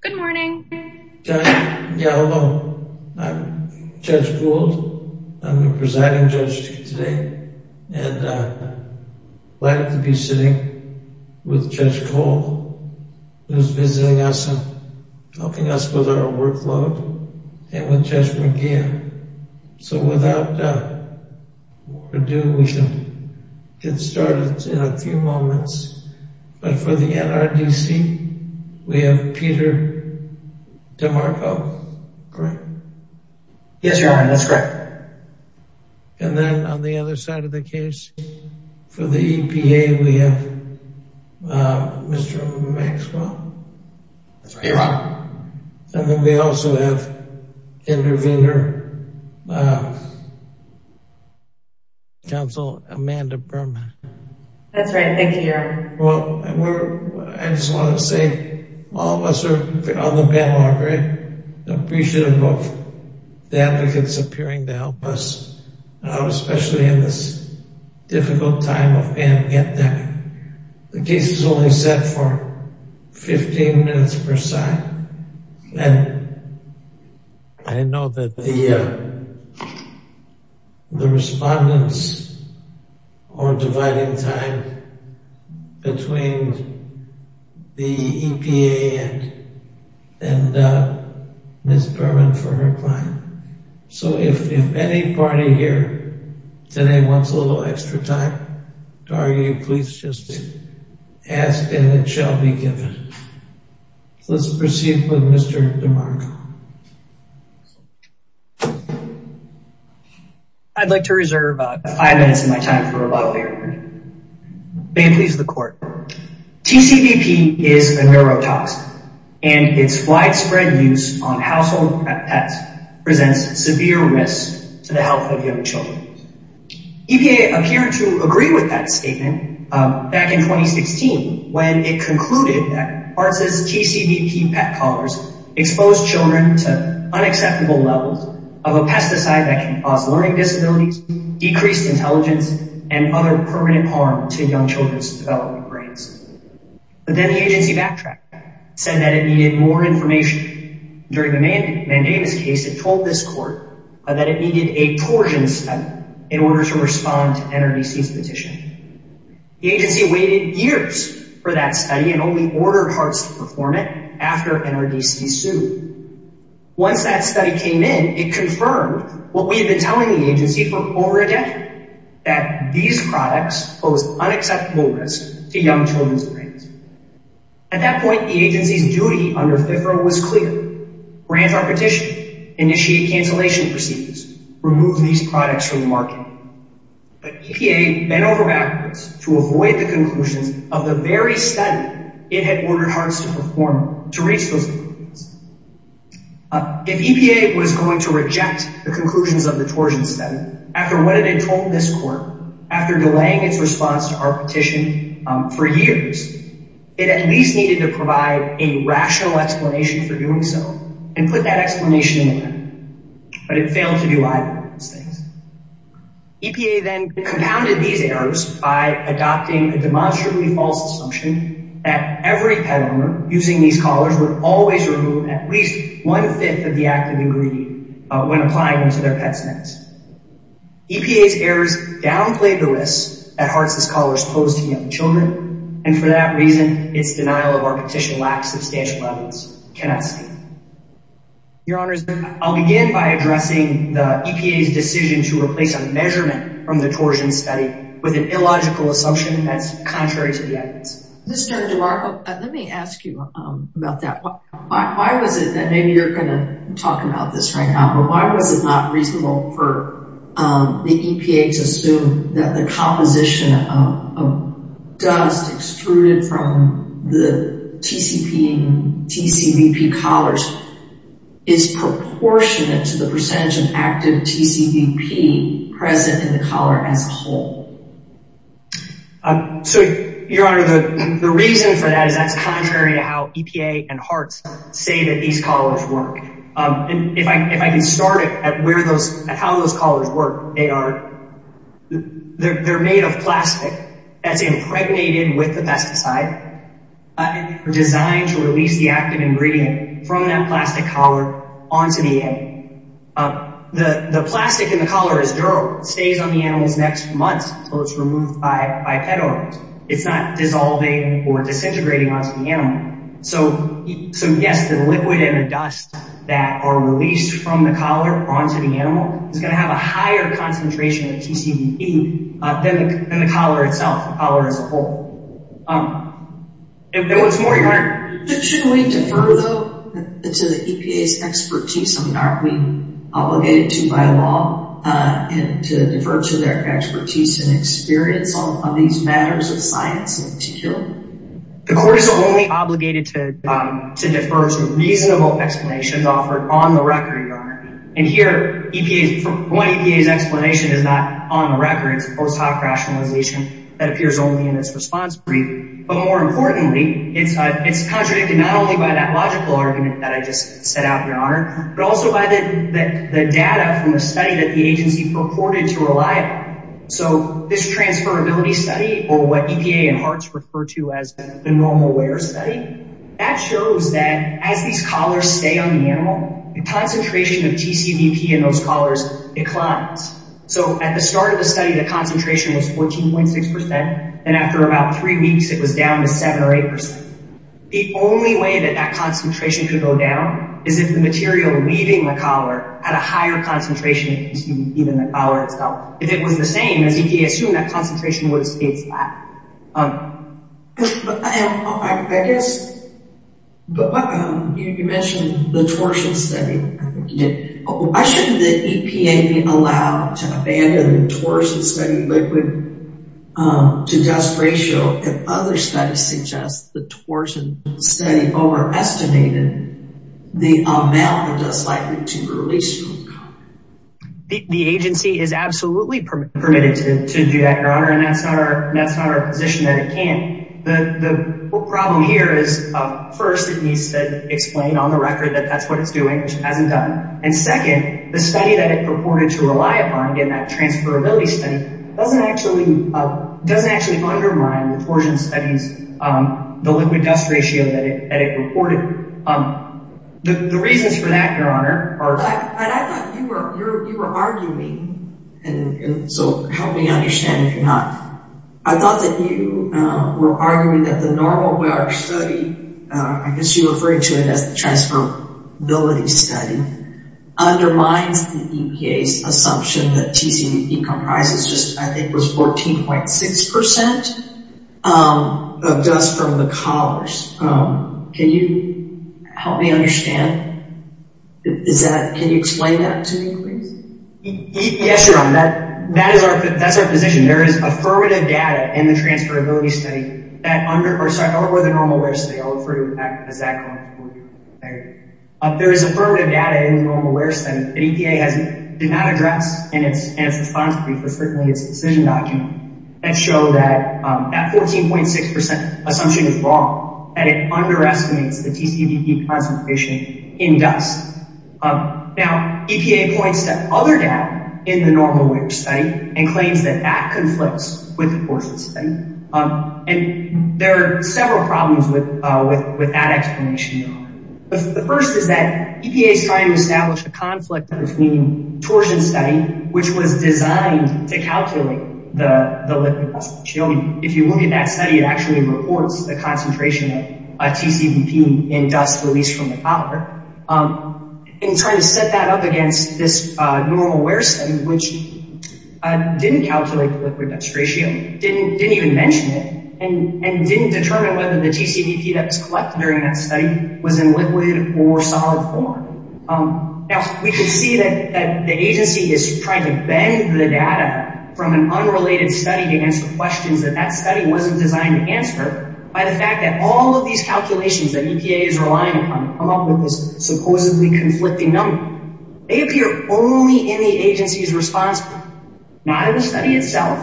Good morning, I'm Judge Gould, I'm the presiding judge today and I'm glad to be sitting with Judge Cole who's visiting us and helping us with our workload and with Judge McGeehan. So without further ado we can get started in a few moments but for the NRDC we have Peter DiMarco, correct? Yes, your honor that's correct. And then on the other side of the case for the EPA we have Mr. Maxwell. That's right, your honor. And then we also have intervener counsel Amanda Berman. That's right, thank you, your honor. Well I just wanted to say all of us are on the bandwagon, very appreciative of the advocates appearing to help us especially in this pandemic. The case is only set for 15 minutes per side and I know that the respondents are dividing time between the EPA and Ms. Berman for her client. So if any party here today wants a little extra time to argue please just ask and it shall be given. So let's proceed with Mr. DiMarco. I'd like to reserve five minutes of my time for a lot later. May it please the court. TCVP is a neurotoxin and its widespread use on household pets presents severe risk to the health of young children. EPA appeared to agree with that statement back in 2016 when it concluded that ARTS' TCVP pet collars expose children to unacceptable levels of a pesticide that can cause learning disabilities, decreased intelligence, and other permanent harm to young children's development brains. But then the agency backtracked, said that it needed more information. During the Davis case it told this court that it needed a torsion step in order to respond to NRDC's petition. The agency waited years for that study and only ordered ARTS to perform it after NRDC sued. Once that study came in it confirmed what we had been telling the agency for over a decade that these products pose unacceptable risk to young children's brains. At that point the agency's peripheral was clear. Grant our petition. Initiate cancellation procedures. Remove these products from the market. But EPA bent over backwards to avoid the conclusions of the very study it had ordered ARTS to perform to reach those conclusions. If EPA was going to reject the conclusions of the torsion study after what it had told this court after delaying its response to our petition for years, it at least needed to provide a rational explanation for doing so and put that explanation in there. But it failed to do either of those things. EPA then compounded these errors by adopting a demonstrably false assumption that every pet owner using these collars would always remove at least one-fifth of the active ingredient when applying them to their pet's necks. EPA's children and for that reason its denial of our petition lacks substantial evidence. Your Honor, I'll begin by addressing the EPA's decision to replace a measurement from the torsion study with an illogical assumption that's contrary to the evidence. Mr. DeMarco, let me ask you about that. Why was it that maybe you're going to talk about this right now but why was it not reasonable for the EPA to assume that the composition of dust extruded from the TCP and TCVP collars is proportionate to the percentage of active TCVP present in the collar as a whole? So, Your Honor, the reason for that is that's contrary to how EPA and ARTS say that collars work. If I can start at how those collars work, they're made of plastic that's impregnated with the pesticide designed to release the active ingredient from that plastic collar onto the animal. The plastic in the collar is durable. It stays on the animal's neck for months until it's removed by pet owners. It's not dissolving or disintegrating onto the animal. So, yes, the liquid and the dust that are released from the collar onto the animal is going to have a higher concentration of TCVP than the collar itself, the collar as a whole. And what's more, Your Honor, shouldn't we defer, though, to the EPA's expertise? I mean, aren't we obligated to by law to defer to their expertise and experience on these matters of science in the court? The court is only obligated to defer to reasonable explanations offered on the record, Your Honor. And here, EPA's explanation is not on the record. It's a post hoc rationalization that appears only in this response brief. But more importantly, it's contradicted not only by that logical argument that I just set out, Your Honor, but also by the data from the study that the agency purported to rely on. So this transferability study or what EPA and ARTS refer to as the normal wear study, that shows that as these collars stay on the animal, the concentration of TCVP in those collars declines. So at the start of the study, the concentration was 14.6%, and after about three weeks, it was down to 7 or 8%. The only way that that concentration could go down is if the material leaving the collar had a higher concentration of TCVP than the collar itself. If it was the same as EPA assumed, that concentration would have stayed flat. But I guess, you mentioned the torsion study. Why shouldn't the EPA be allowed to abandon the torsion study liquid to dust ratio if other studies suggest the torsion study overestimated the amount of dust likely to release from the collar? The agency is absolutely permitted to do that, Your Honor, and that's not our position that it can. The problem here is, first, it needs to explain on the record that that's what it's doing, which it hasn't done. And second, the study that it purported to rely upon in that transferability study doesn't actually undermine the torsion studies, the liquid-dust ratio that it reported. The reasons for that, Your Honor, are... But I thought you were arguing, and so help me understand if you're not. I thought that you were arguing that the normal wear study, I guess you're referring to it as the transferability study, undermines the EPA's assumption that TCVP comprises just, I think, was 14.6%. Of dust from the collars. Can you help me understand? Can you explain that to me, please? Yes, Your Honor. That's our position. There is affirmative data in the transferability study that under... Or, sorry, over the normal wear study. I'll refer you back to that. There is affirmative data in the normal wear study that EPA did not address in its response brief, but certainly in its decision document, that show that that 14.6% assumption is wrong, that it underestimates the TCVP concentration in dust. Now, EPA points to other data in the normal wear study and claims that that conflicts with the torsion study. And there are several problems with that explanation, Your Honor. The first is that calculate the liquid-dust ratio. If you look at that study, it actually reports the concentration of TCVP in dust released from the collar. In trying to set that up against this normal wear study, which didn't calculate the liquid-dust ratio, didn't even mention it, and didn't determine whether the TCVP that was collected during that study was in liquid or solid form. Now, we can see that the agency is trying to bend the data from an unrelated study to answer questions that that study wasn't designed to answer by the fact that all of these calculations that EPA is relying upon to come up with this supposedly conflicting number, they appear only in the agency's response brief. Not in the study itself,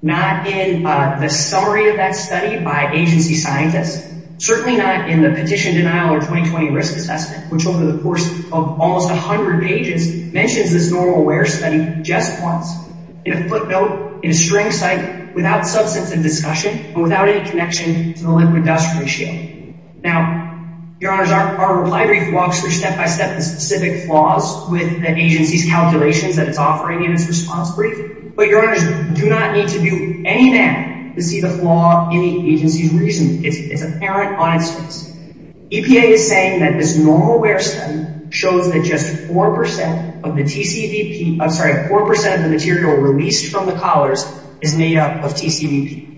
not in the summary of that study by agency scientists, certainly not in the Petition Denial or 2020 Risk Assessment, which over the course of almost 100 pages mentions this normal wear study just once in a footnote, in a string cycle, without substantive discussion, and without any connection to the liquid-dust ratio. Now, Your Honors, our reply brief walks through step-by-step the specific flaws with the agency's calculations that it's offering in its response brief, but Your Honors do not need to do anything to see the flaw in the agency's reasoning. It's apparent on its face. EPA is saying that this normal wear study shows that just 4% of the TCVP, I'm sorry, 4% of the material released from the collars is made up of TCVP.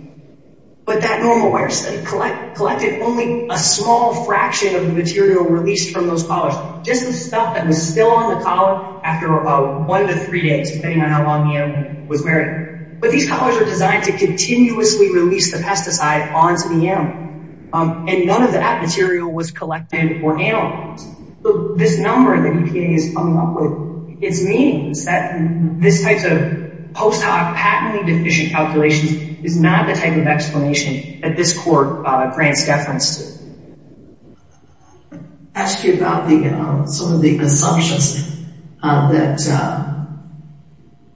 But that normal wear study collected only a small fraction of the material released from those collars, just the stuff that was still on the collar after about one to three days, depending on how long the animal was wearing. But these collars are designed to continuously release the pesticide onto the animal, and none of that material was collected or analyzed. So this number that EPA is coming up with, it means that this type of post-hoc patently deficient calculations is not the type of explanation that this court grants deference to. I'll ask you about some of the assumptions that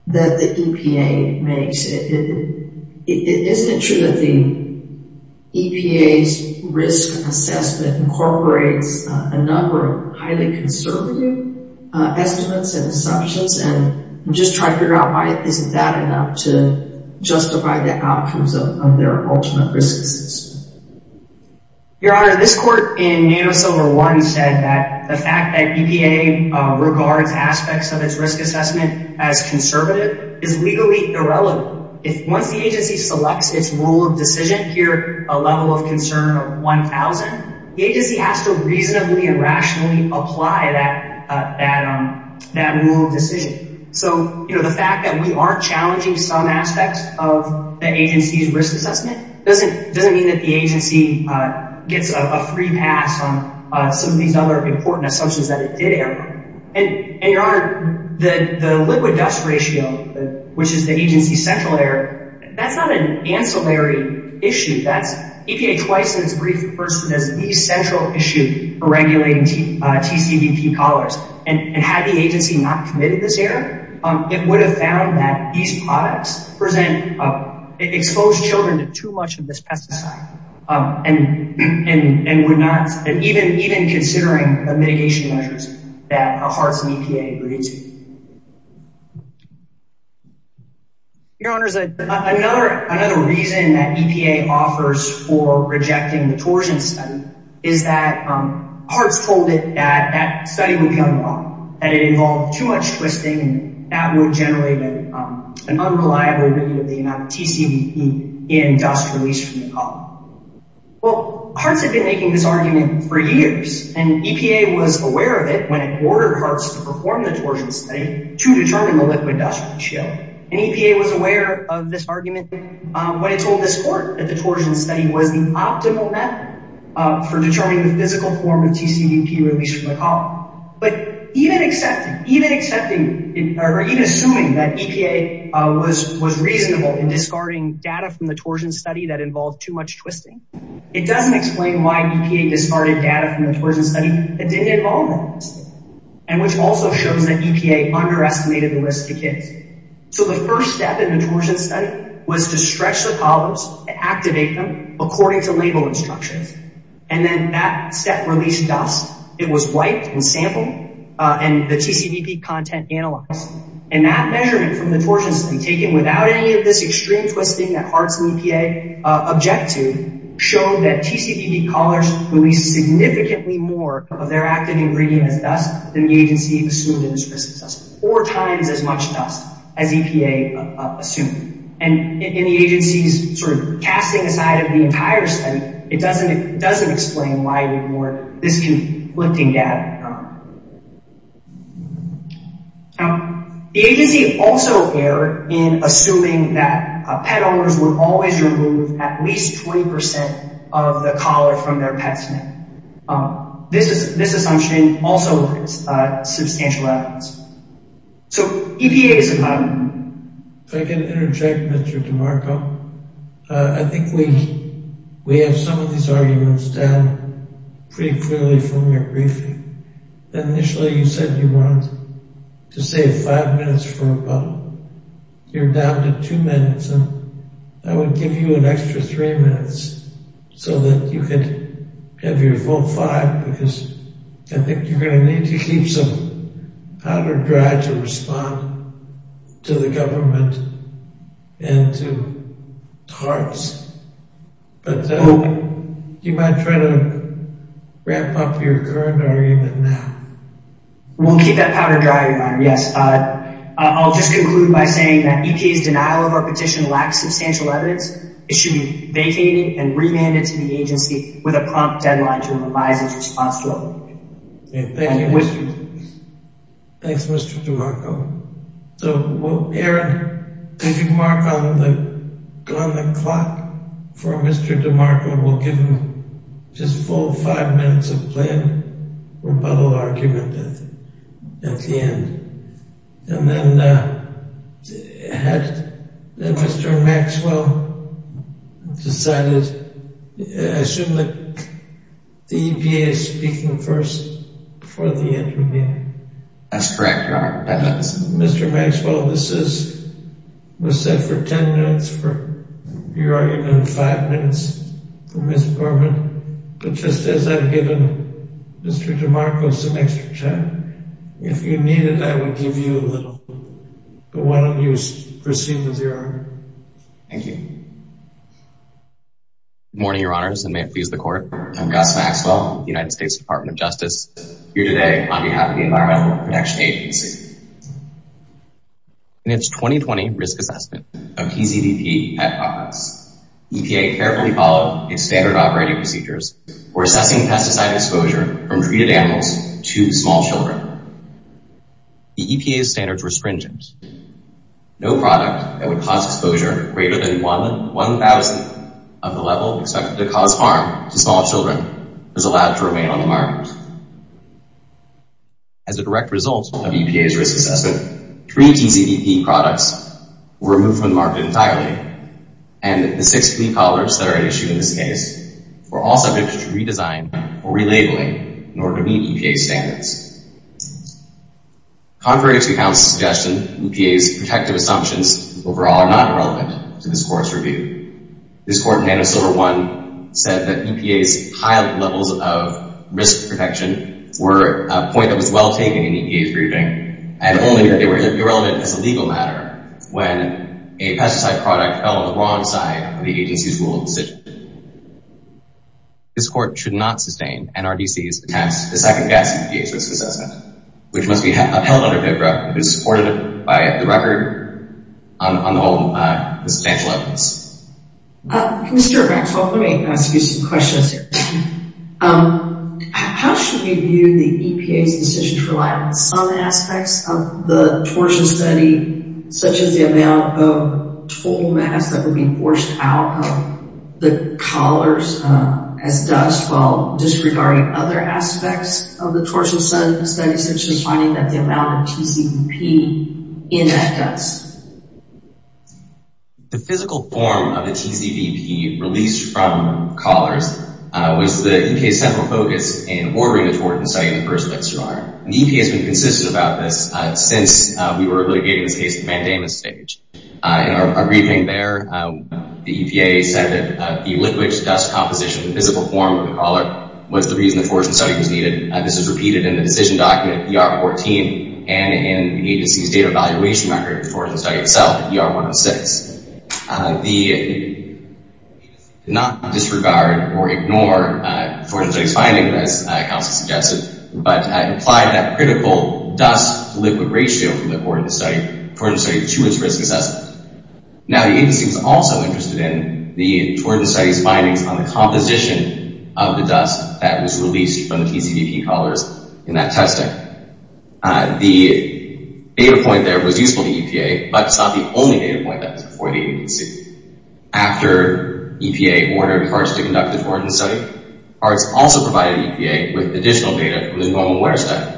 the EPA makes. Isn't it true that the EPA's risk assessment incorporates a number of highly conservative estimates and assumptions, and just try to figure out why isn't that enough to justify the outcomes of their ultimate risk assessment? Your Honor, this court in NanoSilver 1 said that the fact that EPA regards aspects of its risk assessment as conservative is legally irrelevant. Once the agency selects its rule of decision here, a level of concern of 1,000, the agency has to reasonably and rationally apply that rule of decision. So the fact that we aren't challenging some aspects of the agency's risk assessment doesn't mean that the agency gets a free pass on some of these important assumptions that it did err. Your Honor, the liquid dust ratio, which is the agency's central error, that's not an ancillary issue. EPA twice in its brief refers to this as the central issue for regulating TCVP collars. Had the agency not committed this error, it would have found that these products expose children to too much of this pesticide, and even considering the mitigation measures that HART's and EPA agreed to. Your Honor, another reason that EPA offers for rejecting the torsion study is that HART's told it that that study would come wrong, that it involved too much twisting, and that would generate an unreliable reading of the amount of TCVP in dust released from the collar. Well, HART's had been making this argument for years, and EPA was aware of it when it ordered HART's to perform the torsion study to determine the liquid dust ratio. And EPA was aware of this argument when it told this Court that the torsion study was the optimal method for determining the or even assuming that EPA was reasonable in discarding data from the torsion study that involved too much twisting. It doesn't explain why EPA discarded data from the torsion study that didn't involve that twisting, and which also shows that EPA underestimated the risk to kids. So the first step in the torsion study was to stretch the collars, activate them according to label instructions, and then that step released dust. It was wiped and sampled, and the TCVP content analyzed. And that measurement from the torsion study, taken without any of this extreme twisting that HART's and EPA object to, showed that TCVP collars released significantly more of their active ingredient as dust than the agency assumed it was crystal dust, four times as much dust as EPA assumed. And in the agency's sort of casting aside of the entire study, it doesn't explain why it ignored this conflicting data. Now, the agency also erred in assuming that pet owners would always remove at least 20% of the collar from their pet's neck. This assumption also is substantial evidence. So, EPA is a... If I can interject, Mr. DiMarco, I think we have some of these arguments down pretty clearly from your briefing. Initially, you said you wanted to save five minutes for a bubble. You're down to two minutes, and I would give you an extra three minutes so that you could have your vote five, because I think you're going to need to keep some powder dry to respond to the government and to HART's. But you might try to wrap up your current argument now. We'll keep that powder dry, Your Honor, yes. I'll just conclude by saying that EPA's denial of our petition lacks substantial evidence. It should be vacated and remanded to the agency with a response to our petition. Thank you, Mr. DiMarco. So, Aaron, if you mark on the clock for Mr. DiMarco, we'll give him just a full five minutes of planned rebuttal argument at the end. And then had Mr. Maxwell decided... I assume that the EPA is speaking first before the interview. That's correct, Your Honor. Mr. Maxwell, this was set for 10 minutes for your argument, five minutes for Ms. Borman. But just as I've given Mr. DiMarco some extra time, if you need it, I would give you a little. But why don't you proceed with your argument? Thank you. Good morning, Your Honors, and may it please the Court. I'm Gus Maxwell, United States Department of Justice, here today on behalf of the Environmental Protection Agency. In its 2020 risk assessment of PZVP pet products, EPA carefully followed its standard operating procedures for assessing pesticide exposure from treated animals to small children. The EPA's standards were stringent. No product that would cause exposure greater than 1,000 of the level expected to cause harm to small children was allowed to remain on the market. As a direct result of EPA's risk assessment, three PZVP products were removed from the market entirely, and the six flea collars that are at issue in this case were all subject to redesign or relabeling in order to meet EPA standards. Contrary to counsel's suggestion, EPA's protective assumptions overall are not irrelevant to this Court's review. This Court in Antisilver I said that EPA's high levels of risk protection were a point that was well taken in EPA's briefing, and only that they were irrelevant as a legal matter when a pesticide product fell on the wrong side of the agency's rule of decision. This Court should not sustain NRDC's attempt to second-guess EPA's risk assessment, which must be upheld under FIBRA, which is supported by the record on the whole substantial evidence. Mr. Rex, let me ask you some questions here. How should we view the EPA's decision to The physical form of the PZVP released from collars was the EPA's central focus in ordering The EPA has been consistent about this since we were able to get in this case at the mandamus stage. In our briefing there, the EPA said that the liquid dust composition of the physical form of the collar was the reason the Thornton study was needed. This is repeated in the decision document ER14 and in the agency's data evaluation record for the study itself, ER106. The not disregard or ignore Thornton study's finding, as Kelsey suggested, but implied that critical dust liquid ratio from the Thornton study to its risk assessment. Now the agency was also interested in the Thornton study's findings on the composition of the dust that was released from the PZVP collars in that testing. The data point there was useful to EPA, but it's not the only data point that was before the agency. After EPA ordered parts to conduct the Thornton study, parts also provided EPA with additional data from the normal wear study.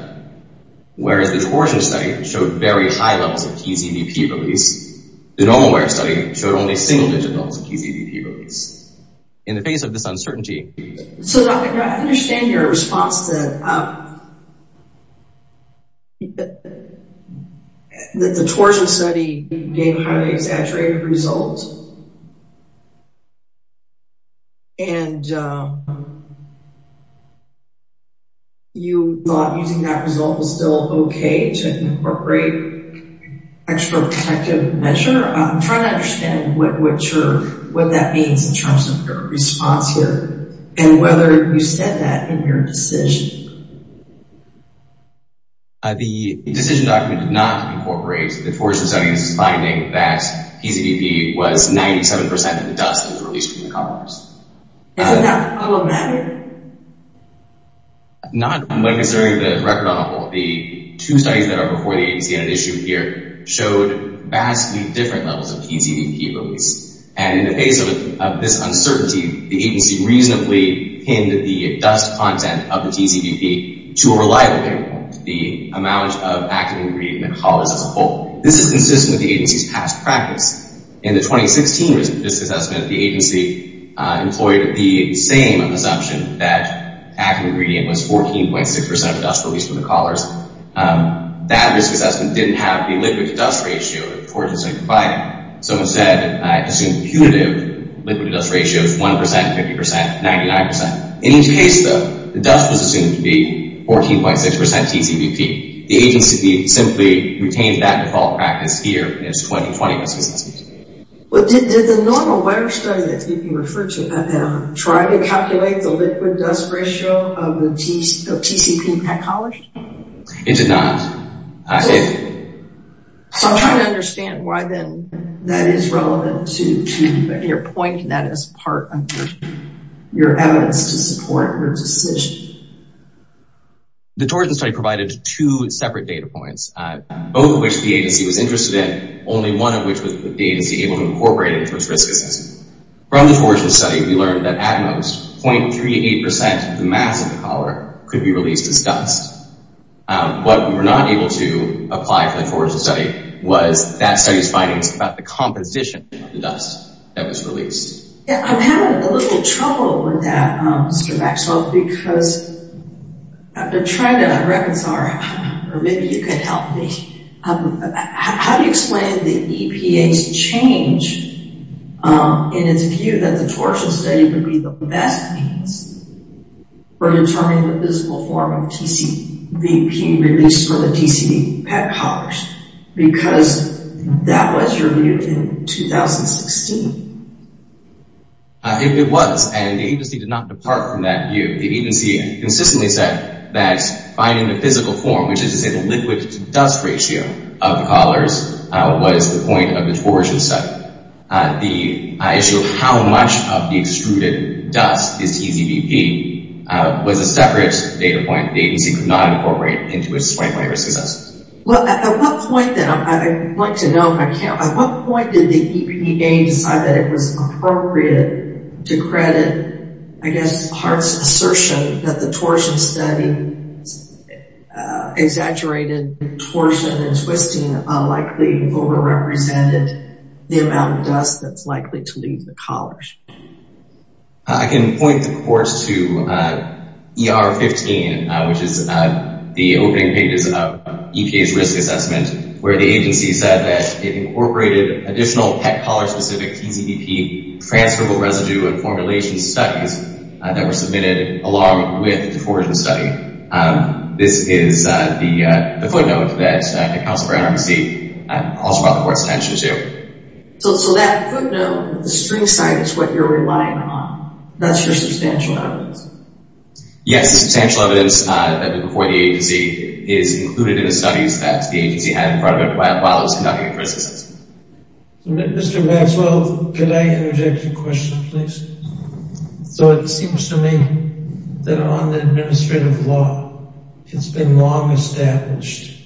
Whereas the torsion study showed very high levels of PZVP release, the normal wear study showed only single digit levels of PZVP release. In the face of this highly exaggerated result and you thought using that result was still okay to incorporate extra protective measure. I'm trying to understand what that means in terms of your response here and whether you said that in your decision. The decision document did not incorporate the Thornton study's finding that PZVP was 97% of the dust that was released from the collars. Is that problematic? Not when considering the record on the wall. The two studies that are before the agency on an issue here showed vastly different levels of PZVP release. And in the face of this uncertainty, the agency reasonably pinned the content of the PZVP to a reliable paper, the amount of active ingredient in the collars as a whole. This is consistent with the agency's past practice. In the 2016 risk assessment, the agency employed the same assumption that active ingredient was 14.6% of dust released from the collars. That risk assessment didn't have the liquid to dust ratio of the Thornton study provided. So instead, I assumed punitive liquid to dust ratios 1%, 50%, 99%. In each case though, the dust was assumed to be 14.6% PZVP. The agency simply retained that default practice here in its 2020 risk assessment. Did the normal virus study that you referred to try to calculate the So I'm trying to understand why then that is relevant to your point that is part of your evidence to support your decision. The Thornton study provided two separate data points, both of which the agency was interested in, only one of which was the agency able to incorporate into its risk assessment. From the Thornton study, we learned that at most 0.38% of the mass of the Thornton study was that study's findings about the composition of the dust that was released. I'm having a little trouble with that, Mr. Maxwell, because I've been trying to reconcile or maybe you could help me. How do you explain the EPA's change in its view that the Thornton study would be the best means for determining the physical form of PZVP released from the TCD PET collars? Because that was reviewed in 2016. It was, and the agency did not depart from that view. The agency consistently said that finding the physical form, which is to say the liquid to dust ratio of the collars, was the point of the Thornton study. The issue of how much of the extruded dust is PZVP was a separate data point the agency could not incorporate into its 2020 risk assessment. Well, at what point then, I'd like to know if I can, at what point did the EPA decide that it was appropriate to credit, I guess, Hart's assertion that the Thornton study exaggerated Thornton and twisting unlikely overrepresented the amount of dust that's EPA's risk assessment where the agency said that it incorporated additional PET collars specific PZVP transferable residue and formulation studies that were submitted along with the Thornton study. This is the footnote that the Council for NRDC calls for the board's attention to. So that footnote, the string site, is what you're relying on. That's your substantial evidence? Yes, substantial evidence that before the agency is included in the studies that the agency had in front of it while it was conducting a risk assessment. Mr. Maxwell, could I interject a question please? So it seems to me that on the administrative law it's been long established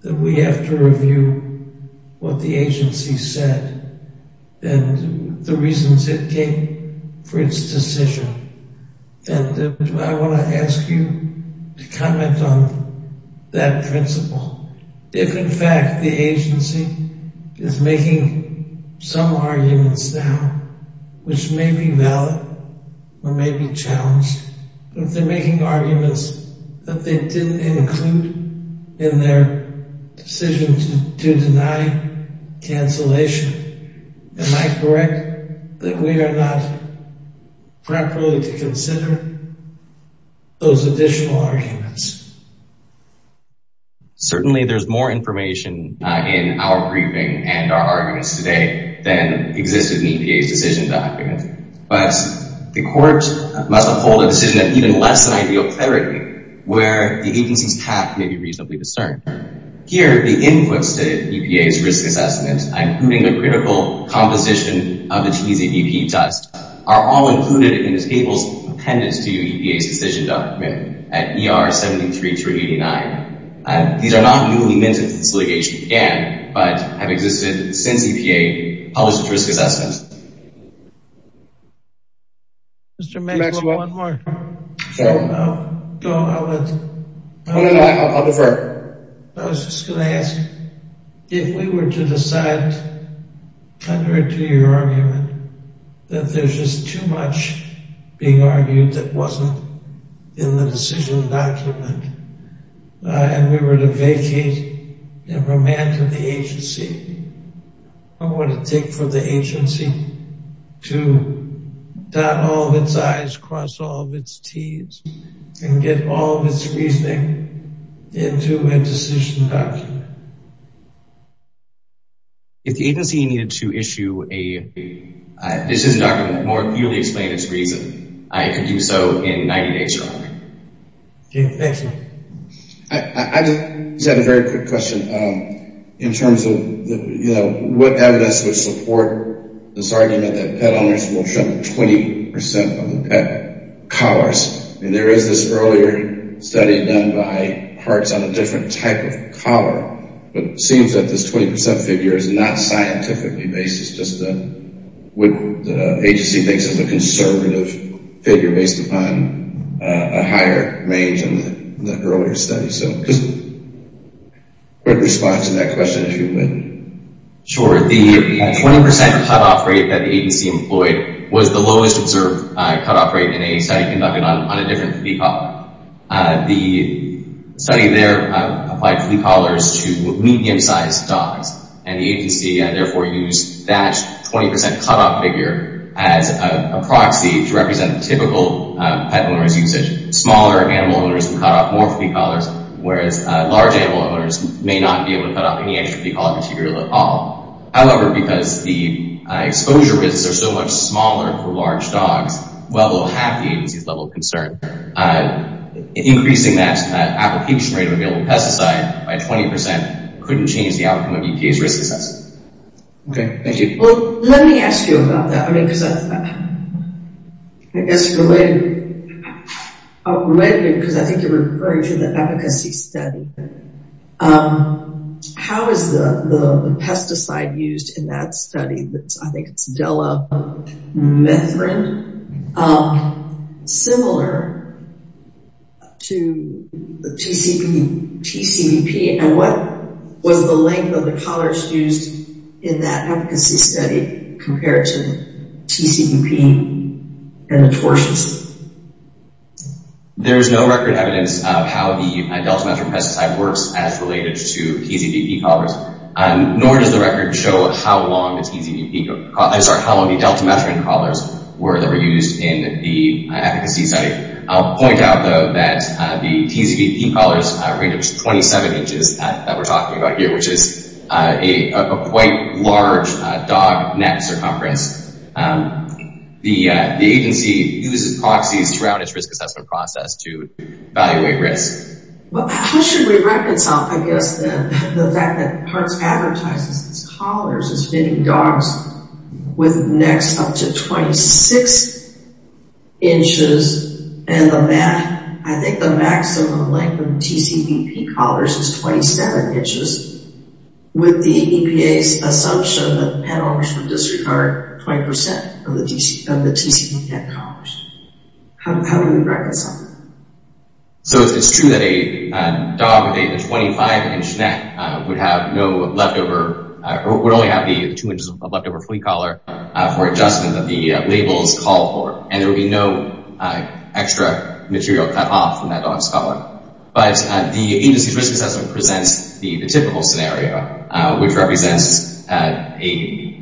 that we have to review what the agency said and the reasons it came for its decision and I want to ask you to comment on that principle. If in fact the agency is making some arguments now which may be valid or may be challenged but if they're making arguments that they didn't include in their decision to deny cancellation, am I correct that we are not properly to consider those additional arguments? Certainly there's more information in our briefing and our arguments today than existed in EPA's decision document but the court must uphold a decision that even less than ideal clarity where the agency's path may be reasonably discerned. Here the inputs to EPA's risk assessment including the critical composition of the included in the table's appendix to EPA's decision document at ER 73 through 89. These are not newly minted since litigation began but have existed since EPA published its risk assessment. Mr. Maxwell, one more. I was just going to ask if we were to decide under a two-year argument that there's just too much being argued that wasn't in the decision document and we were to vacate and remand to the agency. How would it take for the agency to dot all of its I's, cross all of its T's and get all of its reasoning into a decision document? If the agency needed to issue a decision document that more clearly explained its reason, I could do so in 90 days' time. I just have a very quick question in terms of you know what evidence would support this argument that pet owners will show 20% of the pet collars and there is this earlier study done by parts on a different type of collar but it seems that this 20% figure is not scientifically based. It's just the agency thinks it's a conservative figure based upon a higher range in the earlier study. Quick response to that question if you would. Sure, the 20% cutoff rate that the agency employed was the lowest observed cutoff rate in a study conducted on a different flea collar. The study there applied flea collars to medium-sized dogs and the agency therefore used that 20% cutoff figure as a proxy to represent the typical pet owner's usage. Smaller animal owners would cut off more flea collars whereas large animal owners may not be able to cut off any extra flea collar material at all. However, because the exposure risks are so smaller for large dogs, while they'll have the agency's level of concern, increasing that application rate of available pesticide by 20% couldn't change the outcome of EPA's risk assessment. Okay, thank you. Well, let me ask you about that because I think you're referring to the efficacy study. Um, how is the pesticide used in that study that's I think it's Delamethrin similar to the TCP, TCVP and what was the length of the collars used in that efficacy study compared to TCVP and the torches? There is no record evidence of how the Delamethrin pesticide works as related to TCVP collars, nor does the record show how long the TCVP, I'm sorry, how long the Delamethrin collars were that were used in the efficacy study. I'll point out though that the TCVP collars range up to 27 inches that we're talking about here, which is a quite large dog net circumference. Um, the agency uses proxies throughout its risk assessment process to evaluate risk. Well, how should we reconcile, I guess, the fact that Parks advertises its collars as fitting dogs with necks up to 26 inches and the max, I think the maximum length of TCVP collars is 27 inches with the EPA's assumption that pet owners would disregard 20% of the TCVP collars. How do we reconcile that? So it's true that a dog with a 25-inch neck would have no leftover, would only have the two inches of leftover flea collar for adjustment that the labels call for, and there would be no extra material cut off from that dog's collar. But the agency's risk assessment presents the typical scenario, which represents a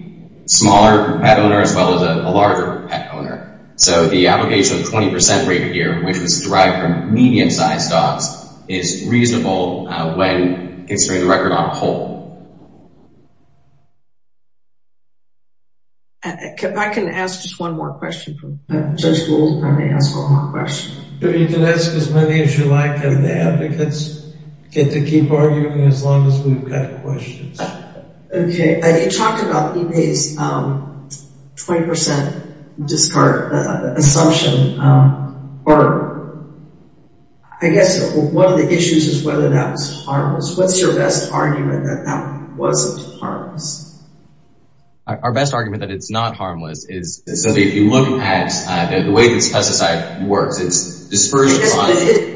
smaller pet owner as well as a larger pet owner. So the application of 20% rate here, which was derived from medium-sized dogs, is reasonable when considering the record on a whole. I can ask just one more question. Judge Gould, can I ask one more question? You can ask as many as you like, and the advocates get to keep arguing as long as we've got questions. Okay. You talked about EPA's 20% assumption, or I guess one of the issues is whether that was harmless. What's your best argument that that wasn't harmless? Our best argument that it's not harmless is... So if you look at the way this pesticide works, it's dispersed... It is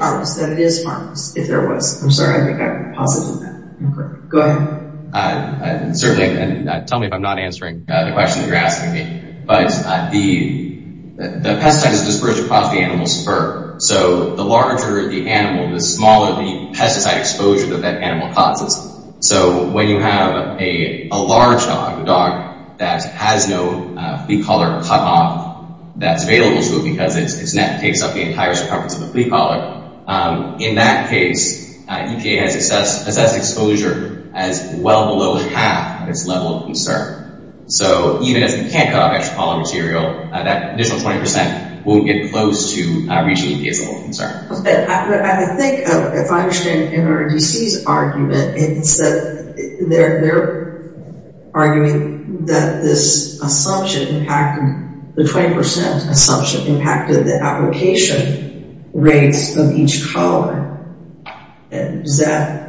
harmless. It is harmless, if there was. I'm sorry, I think I've posited that. Okay. Go ahead. Certainly, and tell me if I'm not answering the question you're asking me. But the pesticide is dispersed across the animal's fur. So the larger the animal, the smaller the pesticide exposure that that animal causes. So when you have a large dog that has no flea collar cut off that's available to it because its net takes up the entire circumference of the flea collar, in that case, EPA has assessed exposure as well below half its level of concern. So even if you can't cut off extra pollen material, that additional 20% won't get close to reaching EPA's level of concern. I think, if I understand NRDC's argument, it's that they're arguing that this assumption, the 20% assumption, impacted the application rates of each collar. Is that...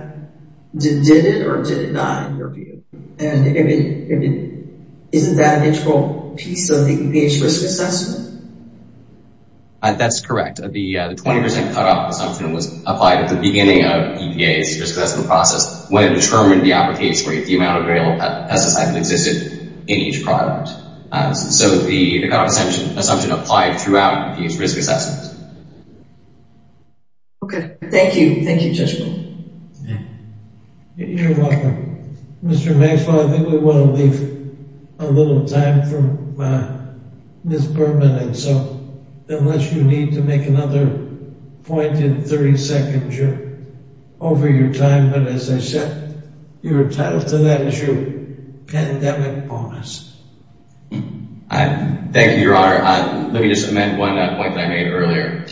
Did it or did it not, in your view? And isn't that an integral piece of the EPA's risk assessment? That's correct. The 20% cut off assumption was applied at the beginning of EPA's risk assessment process when it determined the application rate, the amount of variable pesticide that existed in each product. So the cut off assumption applied throughout these risk assessments. Okay. Thank you. Thank you, Judge Bowman. You're welcome. Mr. Maxwell, I think we want to leave a little time for Ms. Berman. So unless you need to make another point in 30 seconds, you're over your time. But as I said, you're entitled to that as your pandemic bonus. Thank you, Your Honor. Let me just amend one point that I made earlier.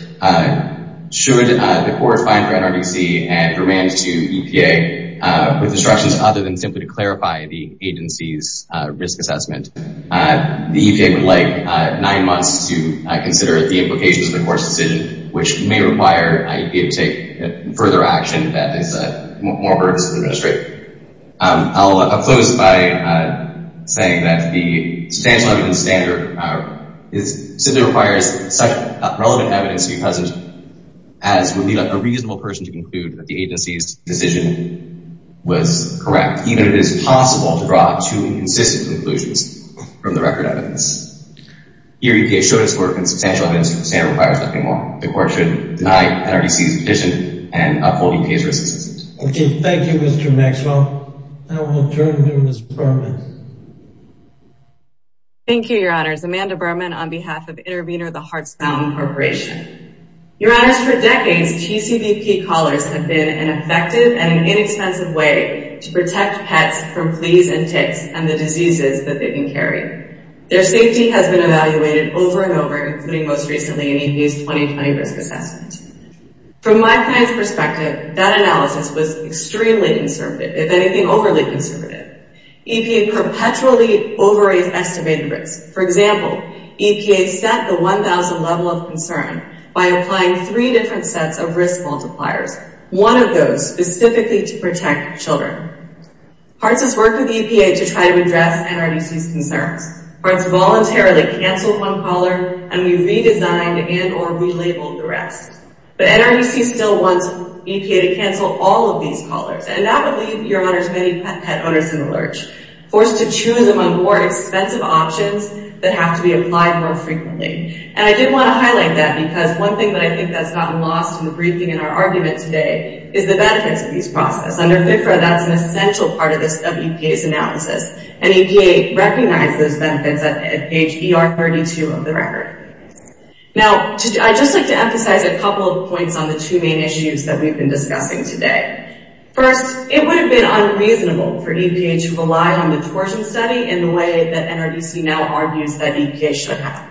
Should the court find for NRDC and permit to EPA with instructions other than simply to clarify the agency's risk assessment, the EPA would like nine months to consider the implications of the court's decision, which may require EPA to take further action that is more adverse to the administrator. I'll close by saying that the substantial evidence standard simply requires such relevant evidence to be present as would be a reasonable person to conclude that the agency's decision was correct, even if it is possible to draw two consistent conclusions from the record evidence. Here, EPA showed its work and substantial evidence standard requires nothing more. The court should deny NRDC's position and uphold EPA's risk assessment. Okay. Thank you, Mr. Maxwell. I will turn to Ms. Berman. Thank you, Your Honors. Amanda Berman on behalf of Intervenor, the Hearts Fountain Corporation. Your Honors, for decades, TCVP collars have been an effective and inexpensive way to protect pets from fleas and ticks and the diseases that they can carry. Their safety has been evaluated over and over, including most recently in EPA's 2020 risk assessment. From my client's perspective, that analysis was extremely conservative, if anything, overly conservative. EPA perpetually overestimated risk. For example, EPA set the one level of concern by applying three different sets of risk multipliers, one of those specifically to protect children. Hearts has worked with EPA to try to address NRDC's concerns. Hearts voluntarily canceled one collar and we redesigned and or relabeled the rest. But NRDC still wants EPA to cancel all of these collars and that would leave Your Honors many pet owners in the lurch, forced to choose among more expensive options that have to be applied more frequently. And I did want to highlight that because one thing that I think that's gotten lost in the briefing in our argument today is the benefits of these processes. Under FFRA, that's an essential part of EPA's analysis. And EPA recognizes those benefits at page ER32 of the record. Now, I'd just like to emphasize a couple of points on the two main issues that we've been on the torsion study in the way that NRDC now argues that EPA should have.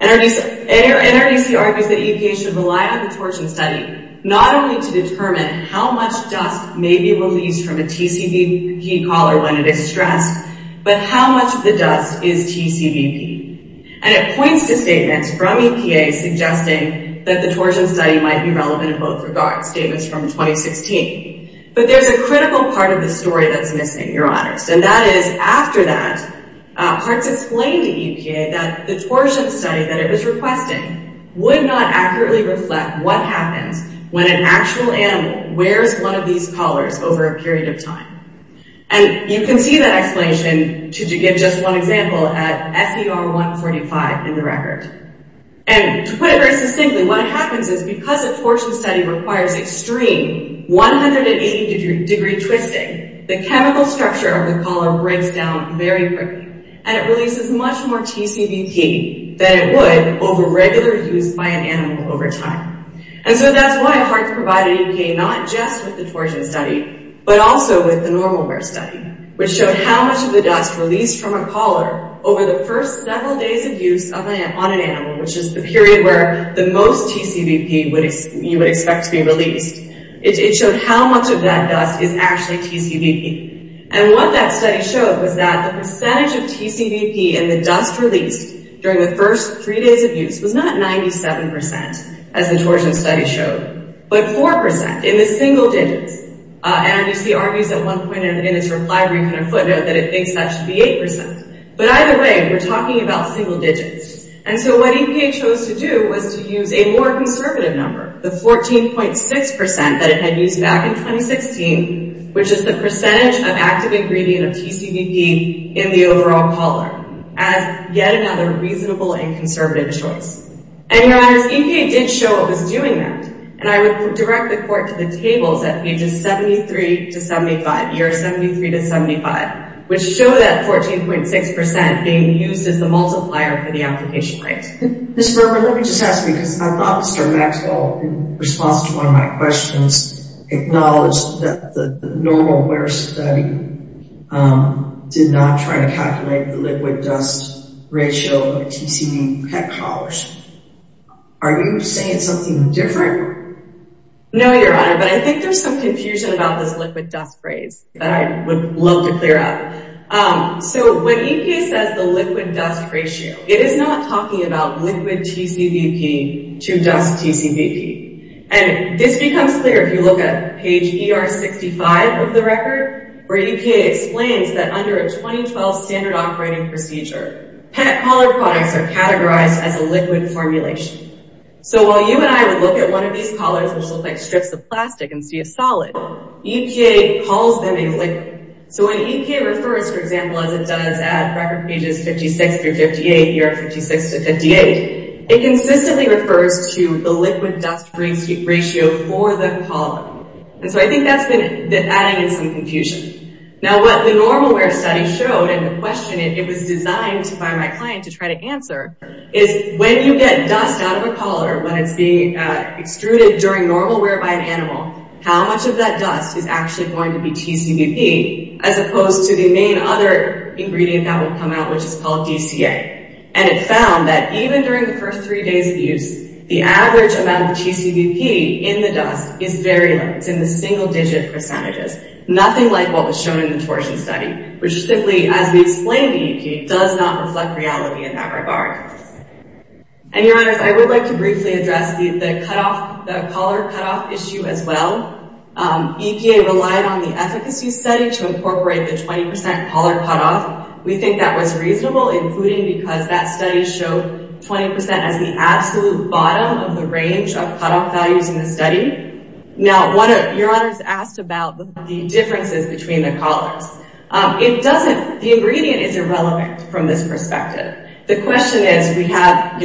NRDC argues that EPA should rely on the torsion study, not only to determine how much dust may be released from a TCVP collar when it is stressed, but how much of the dust is TCVP. And it points to statements from EPA suggesting that the torsion study might be relevant in both regards, statements from 2016. But there's a critical part of the story that's missing, Your Honors. And that is, after that, Parks explained to EPA that the torsion study that it was requesting would not accurately reflect what happens when an actual animal wears one of these collars over a period of time. And you can see that explanation, to give just one example, at FER145 in the record. And to put it very succinctly, what happens is because a torsion study requires extreme, 180-degree twisting, the chemical structure of the collar breaks down very quickly, and it releases much more TCVP than it would over regular use by an animal over time. And so that's why it's hard to provide an EPA not just with the torsion study, but also with the normal wear study, which showed how much of the dust released from a collar over the first several days of use on an animal, which is the period where the most TCVP you would expect to be released, it showed how much of that dust is actually TCVP. And what that study showed was that the percentage of TCVP in the dust released during the first three days of use was not 97%, as the torsion study showed, but 4% in the single digits. NRDC argues at one point in its reply brief in a footnote that it thinks that should be 8%. But either way, we're talking about 14.6% that it had used back in 2016, which is the percentage of active ingredient of TCVP in the overall collar, as yet another reasonable and conservative choice. And your honors, EPA did show it was doing that. And I would direct the court to the tables at pages 73 to 75, year 73 to 75, which show that 14.6% being used as the multiplier for the application rate. Ms. Berman, let me just ask you, because I thought Mr. Maxwell, in response to one of my questions, acknowledged that the normal wear study did not try to calculate the liquid dust ratio of the TCVP pet collars. Are you saying something different? No, your honor, but I think there's some confusion about this liquid dust phrase that I would love to clear up. So when you're talking about liquid TCVP to dust TCVP, and this becomes clear if you look at page ER65 of the record, where EPA explains that under a 2012 standard operating procedure, pet collar products are categorized as a liquid formulation. So while you and I would look at one of these collars, which look like strips of plastic and see a solid, EPA calls them a liquid. So when EPA refers, for example, as it does at record pages 56 through 58, year 56 to 58, it consistently refers to the liquid dust ratio for the collar. And so I think that's been adding in some confusion. Now, what the normal wear study showed, and the question it was designed by my client to try to answer, is when you get dust out of a collar, when it's being extruded during normal wear by an as opposed to the main other ingredient that would come out, which is called DCA. And it found that even during the first three days of use, the average amount of TCVP in the dust is very low. It's in the single digit percentages, nothing like what was shown in the torsion study, which simply, as we explained to you, does not reflect reality in that regard. And your honors, I would like to briefly address the cutoff, the collar cutoff issue as well. EPA relied on the efficacy study to incorporate the 20% collar cutoff. We think that was reasonable, including because that study showed 20% as the absolute bottom of the range of cutoff values in the study. Now, your honors asked about the differences between the collars. The ingredient is irrelevant from this perspective. The question is, we have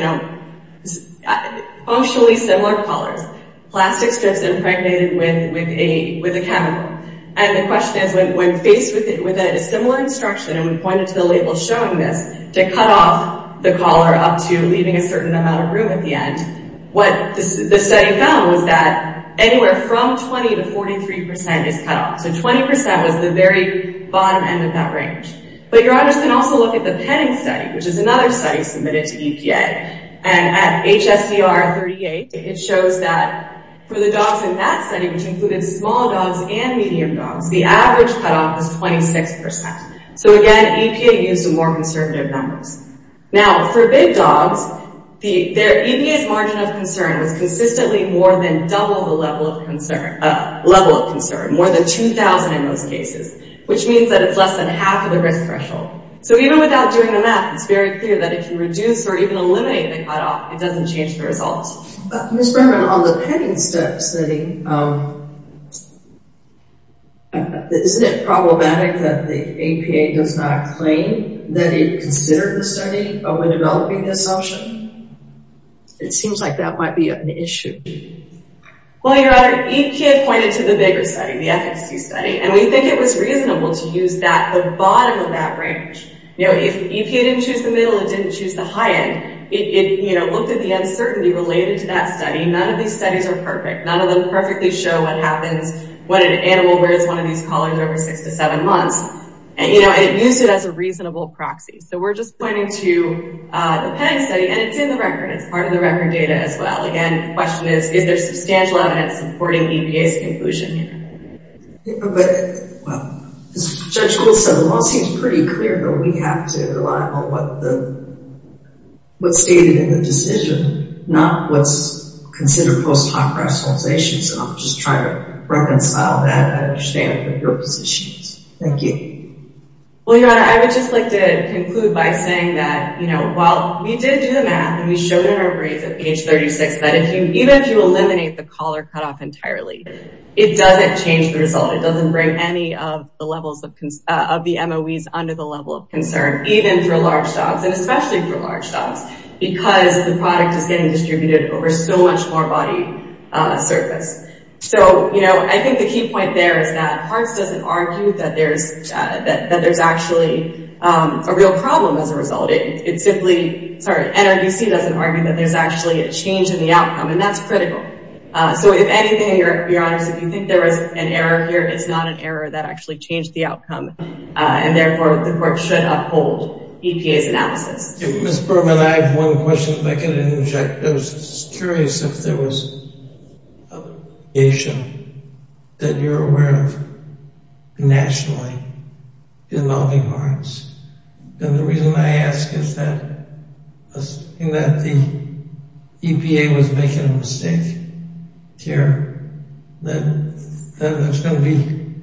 functionally similar collars, plastic strips impregnated with a chemical. And the question is, when faced with a similar instruction, and we pointed to the label showing this, to cut off the collar up to leaving a certain amount of room at the end, what the study found was that anywhere from 20 to 43% is cutoff. So 20% was the very bottom end of that range. But your honors can also look at the petting study, which is another study submitted to EPA. And at HSDR 38, it shows that for the dogs in that study, which included small dogs and medium dogs, the average cutoff was 26%. So again, EPA used more conservative numbers. Now, for big dogs, EPA's margin of concern was consistently more than double the level of concern, more than 2000 in most cases, which means that it's less than half of the risk threshold. So even without doing the math, it's very clear that if you reduce or even eliminate the cutoff, it doesn't change the results. Ms. Berman, on the petting study, isn't it problematic that the EPA does not claim that it considered the study when developing the assumption? It seems like that might be an issue. Well, your honor, EPA pointed to the bigger study, the efficacy study, and we think it was reasonable to use that, the bottom of that range. If EPA didn't choose the middle, it didn't choose the high end. It looked at the uncertainty related to that study. None of these studies are perfect. None of them perfectly show what happens when an animal wears one of these collars over six to seven months. And it used it as a reasonable proxy. So we're just pointing to the petting study, and it's in the record. It's part of the record data as well. Again, the question is, is there substantial evidence supporting EPA's conclusion here? As Judge Gould said, the law seems pretty clear, but we have to rely on what's stated in the decision, not what's considered post hoc rationalizations. And I'll just try to reconcile that and understand what your position is. Thank you. Well, your honor, I would just like to add, and we showed in our brief at page 36, that even if you eliminate the collar cutoff entirely, it doesn't change the result. It doesn't bring any of the levels of the MOEs under the level of concern, even for large dogs, and especially for large dogs, because the product is getting distributed over so much more body surface. So I think the key point there is that there's actually a real problem as a result. NRDC doesn't argue that there's actually a change in the outcome, and that's critical. So if anything, your honors, if you think there was an error here, it's not an error. That actually changed the outcome. And therefore, the court should uphold EPA's analysis. Ms. Bergman, I have one question if I can interject. I was curious if there was a nation that you're aware of nationally involving hearts. And the reason I ask is that assuming that the EPA was making a mistake here, then there's going to be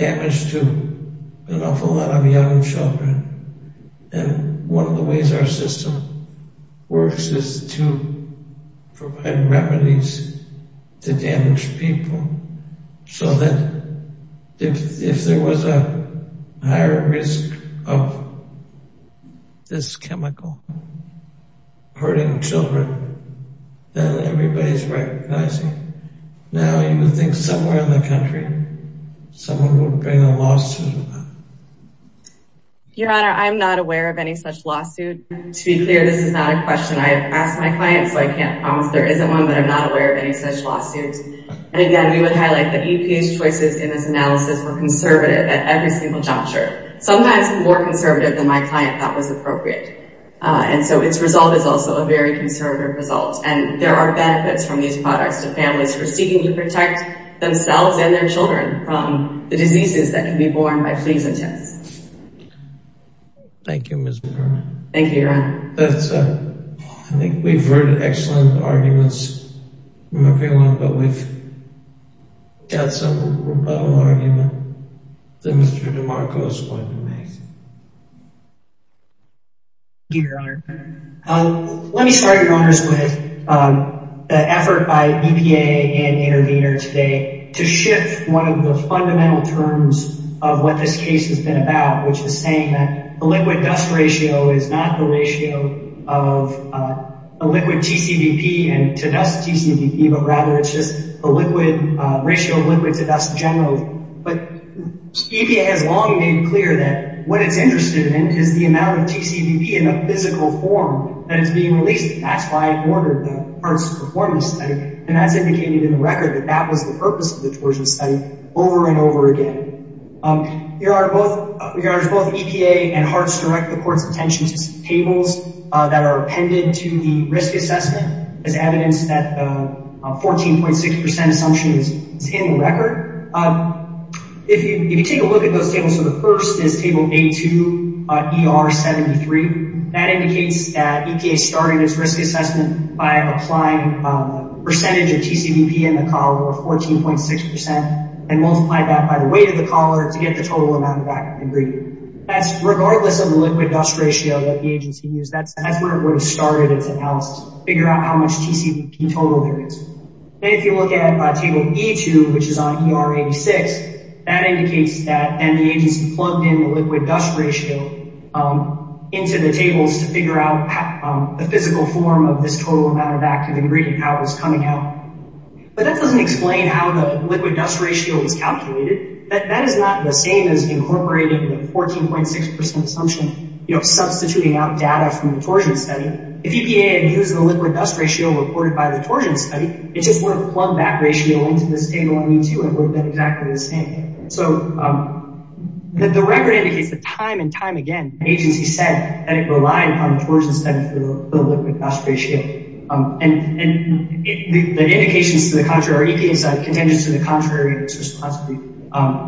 damage to an awful lot of young children. And one of the ways our system works is to provide remedies to damaged people. So that if there was a higher risk of this chemical hurting children, then everybody's recognizing. Now you would think somewhere in the country, someone would bring a lawsuit. Your honor, I'm not aware of any such lawsuit. To be clear, this is not a question I've asked my clients, so I can't promise there isn't one, but I'm not aware of any such lawsuit. And again, we would highlight that EPA's choices in this analysis were conservative at every single juncture. Sometimes more conservative than my client thought was appropriate. And so its result is also a very conservative result. And there are benefits from these products to families who are seeking to protect themselves and their children from the diseases that can be born by fleas and ticks. Thank you, Ms. Bergman. Thank you, your honor. Let me start, your honors, with the effort by EPA and Intervenor today to shift one of the fundamental terms of what this case has been about, which is saying that liquid-dust ratio is not the ratio of a liquid TCVP to dust TCVP, but rather it's just a ratio of liquid to dust generally. But EPA has long made clear that what it's interested in is the amount of TCVP in a physical form that is being released. That's why I ordered the HEARTS performance study. And that's indicated in the record that that was the purpose of the HEARTS direct the court's attention to some tables that are appended to the risk assessment as evidence that 14.6% assumption is in the record. If you take a look at those tables, so the first is table A2 ER73, that indicates that EPA started its risk assessment by applying percentage of TCVP in the collar, or 14.6%, and multiplied that by the weight of the collar to get the total amount of active ingredient. That's regardless of the liquid-dust ratio that the agency used, that's where it would have started its analysis, figure out how much TCVP total there is. And if you look at table E2, which is on ER86, that indicates that the agency plugged in the liquid-dust ratio into the tables to figure out the physical form of this total amount of active ingredient, how it was coming out. But that doesn't explain how the liquid-dust ratio was calculated. That is not the same as incorporating the 14.6% assumption, substituting out data from the torsion study. If EPA had used the liquid-dust ratio reported by the torsion study, it just wouldn't have plugged that ratio into this table in E2, it would have been exactly the same. So, the record indicates that time and time again, the agency said that it relied on the torsion study for the liquid-dust ratio. And the indications to the contrary, EPA said to the contrary, it was possibly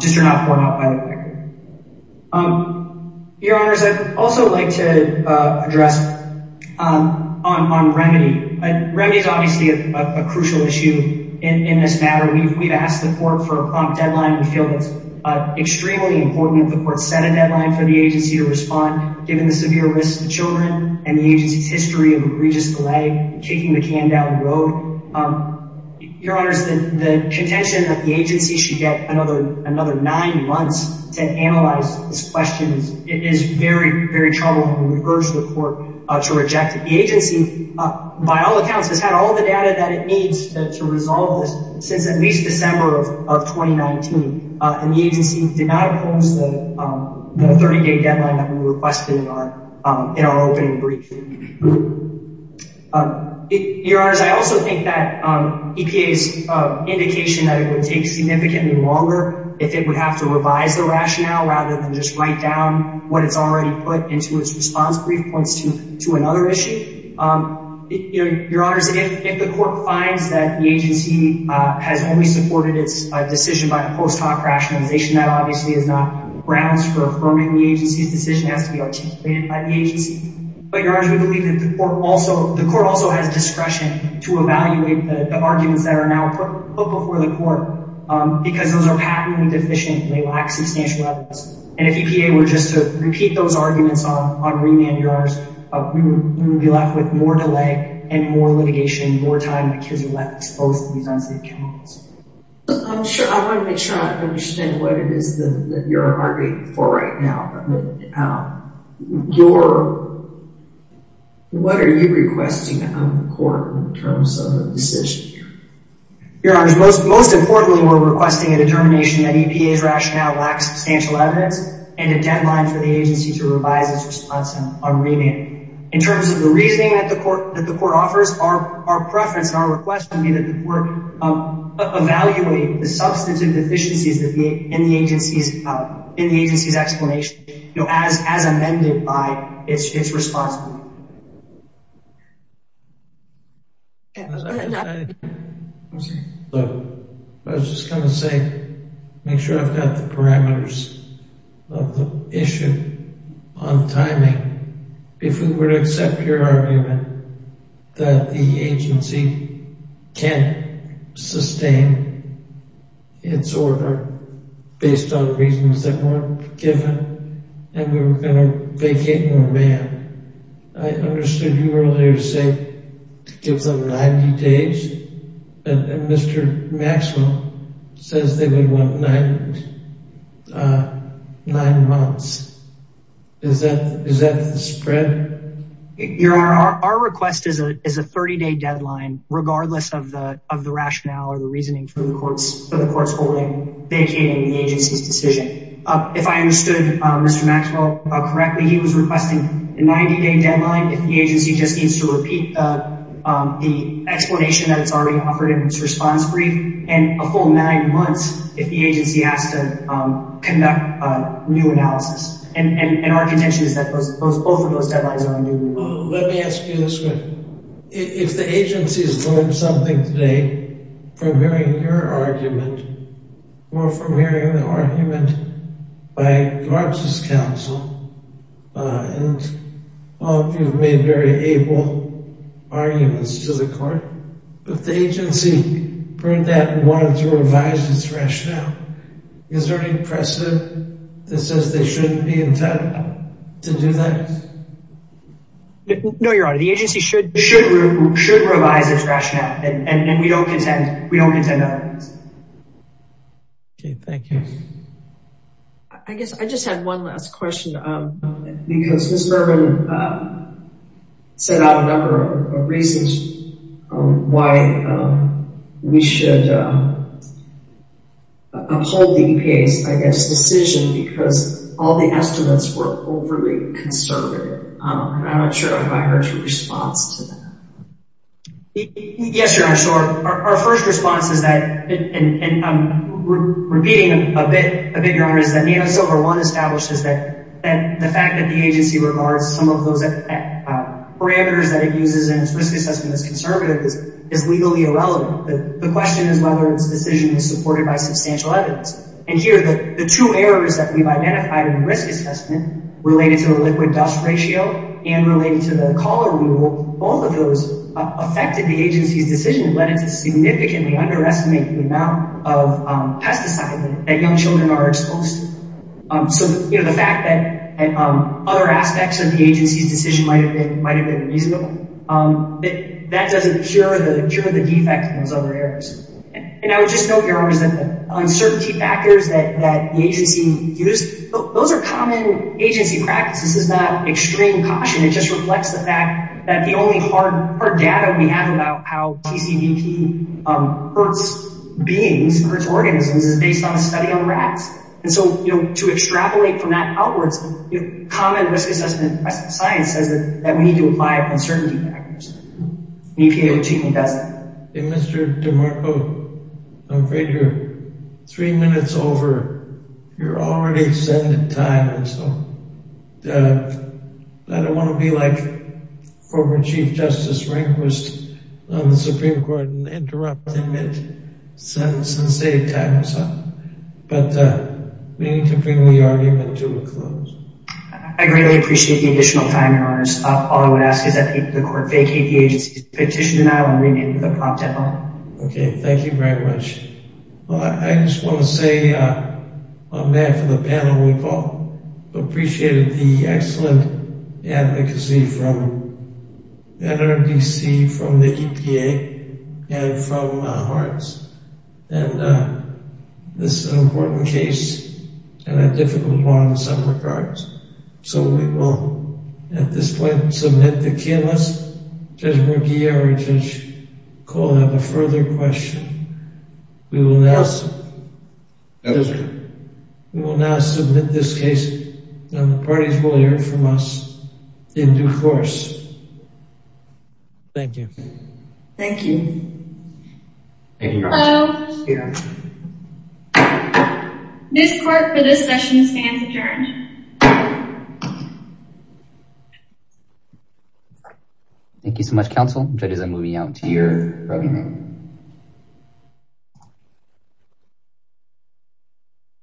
just or not poured out by the record. Your Honors, I'd also like to address on remedy. Remedy is obviously a crucial issue in this matter. We've asked the court for a prompt deadline. We feel it's extremely important the court set a deadline for the agency to respond, given the severe risks to children and the agency's history of egregious delay, kicking the can down the road. Your Honors, the contention that the agency should get another nine months to analyze these questions is very, very troubling. We've urged the court to reject it. The agency, by all accounts, has had all the data that it needs to resolve this since at least December of 2019. And the agency did not oppose the 30-day deadline that we requested in our opening brief. Your Honors, I also think that EPA's indication that it would take significantly longer if it would have to revise the rationale rather than just write down what it's already put into its response brief points to another issue. Your Honors, if the court finds that the agency has only supported its decision by the post hoc rationalization, that obviously is not grounds for affirming the agency's decision. It has to be articulated by the agency. But Your Honors, we believe that the court also has discretion to evaluate the arguments that are now put before the court, because those are patently deficient and they lack substantial evidence. And if EPA were just to repeat those arguments on remand, Your Honors, we would be left with more delay and more litigation, more time that kids are left exposed to these unsafe chemicals. I want to make sure I understand what it is that you're arguing for right now. What are you requesting of the court in terms of the decision? Your Honors, most importantly, we're requesting a determination that EPA's rationale lacks substantial evidence and a deadline for the agency to revise its response on remand. In terms of the reasoning that the court offers, our preference and our request would be that the agency amend its response. Look, I was just going to say, make sure I've got the parameters of the issue on timing. If we were to accept your argument that the agency can't sustain its order based on reasons that weren't given and we were going to vacate remand, I understood you earlier say to give them 90 days and Mr. Maxwell says they would want nine months. Is that the spread? Your Honor, our request is a 30-day deadline, regardless of the rationale or the reasoning for the court's holding vacating the agency's decision. If I understood Mr. Maxwell correctly, he was requesting a 90-day deadline if the agency just needs to repeat the explanation that it's already offered in its response brief and a full nine months if the agency has to conduct a new analysis and our contention is that both of those deadlines are a new one. Let me ask you this question. If the agency's learned something today from hearing your argument or from hearing the argument by Garza's counsel and all of you have made very able arguments to the court, if the agency heard that and wanted to revise its rationale, is there any precedent that says they shouldn't be entitled to do that? No, Your Honor, the agency should revise its rationale and we don't contend that. Okay, thank you. I guess I just had one last question because Ms. Mervyn set out a number of reasons why we should uphold the EPA's decision because all the estimates were overly conservative and I'm not sure if I heard your response to that. Yes, Your Honor, so our first response is that, and I'm repeating a bit, Your Honor, is that NATO Silver One establishes that the fact that the agency regards some of those parameters that it uses in its risk assessment as conservative is legally irrelevant. The question is whether its decision is supported by substantial evidence and here the two errors that we've identified in the risk assessment related to the liquid dust ratio and related to the collar rule, both of those affected the agency's decision and led it to significantly underestimate the amount of pesticide that young children are exposed to. So the fact that other aspects of the agency's decision might have been reasonable, that doesn't cure the defect in those other areas. The uncertainty factors that the agency used, those are common agency practices. This is not extreme caution. It just reflects the fact that the only hard data we have about how PCBP hurts beings, hurts organisms, is based on a study on rats. And so to extrapolate from that outwards, common risk assessment science says that we need to apply uncertainty factors. Mr. DeMarco, I'm afraid you're three minutes over. You're already extended time and so I don't want to be like former Chief Justice Rehnquist on the Supreme Court and interrupt him and send some save time or something, but we need to bring the argument to a close. I greatly appreciate the additional time, Your Honors. All I would ask is that the court vacate the agency's petition and I will remain with the propped at home. Okay, thank you very much. Well, I just want to say I'm mad for the panel we've all appreciated the excellent advocacy from NRDC, from the EPA, and from HARTS. And this is an important case and a difficult one in some regards. So we will at this point submit the key. Unless Judge Muguiere or Judge Cole have a further question. We will now submit this case and the parties will hear from us in due course. Thank you. Thank you. Hello. This court for this session stands adjourned. Thank you so much, counsel. Judges, I'm moving out to your rubbing room.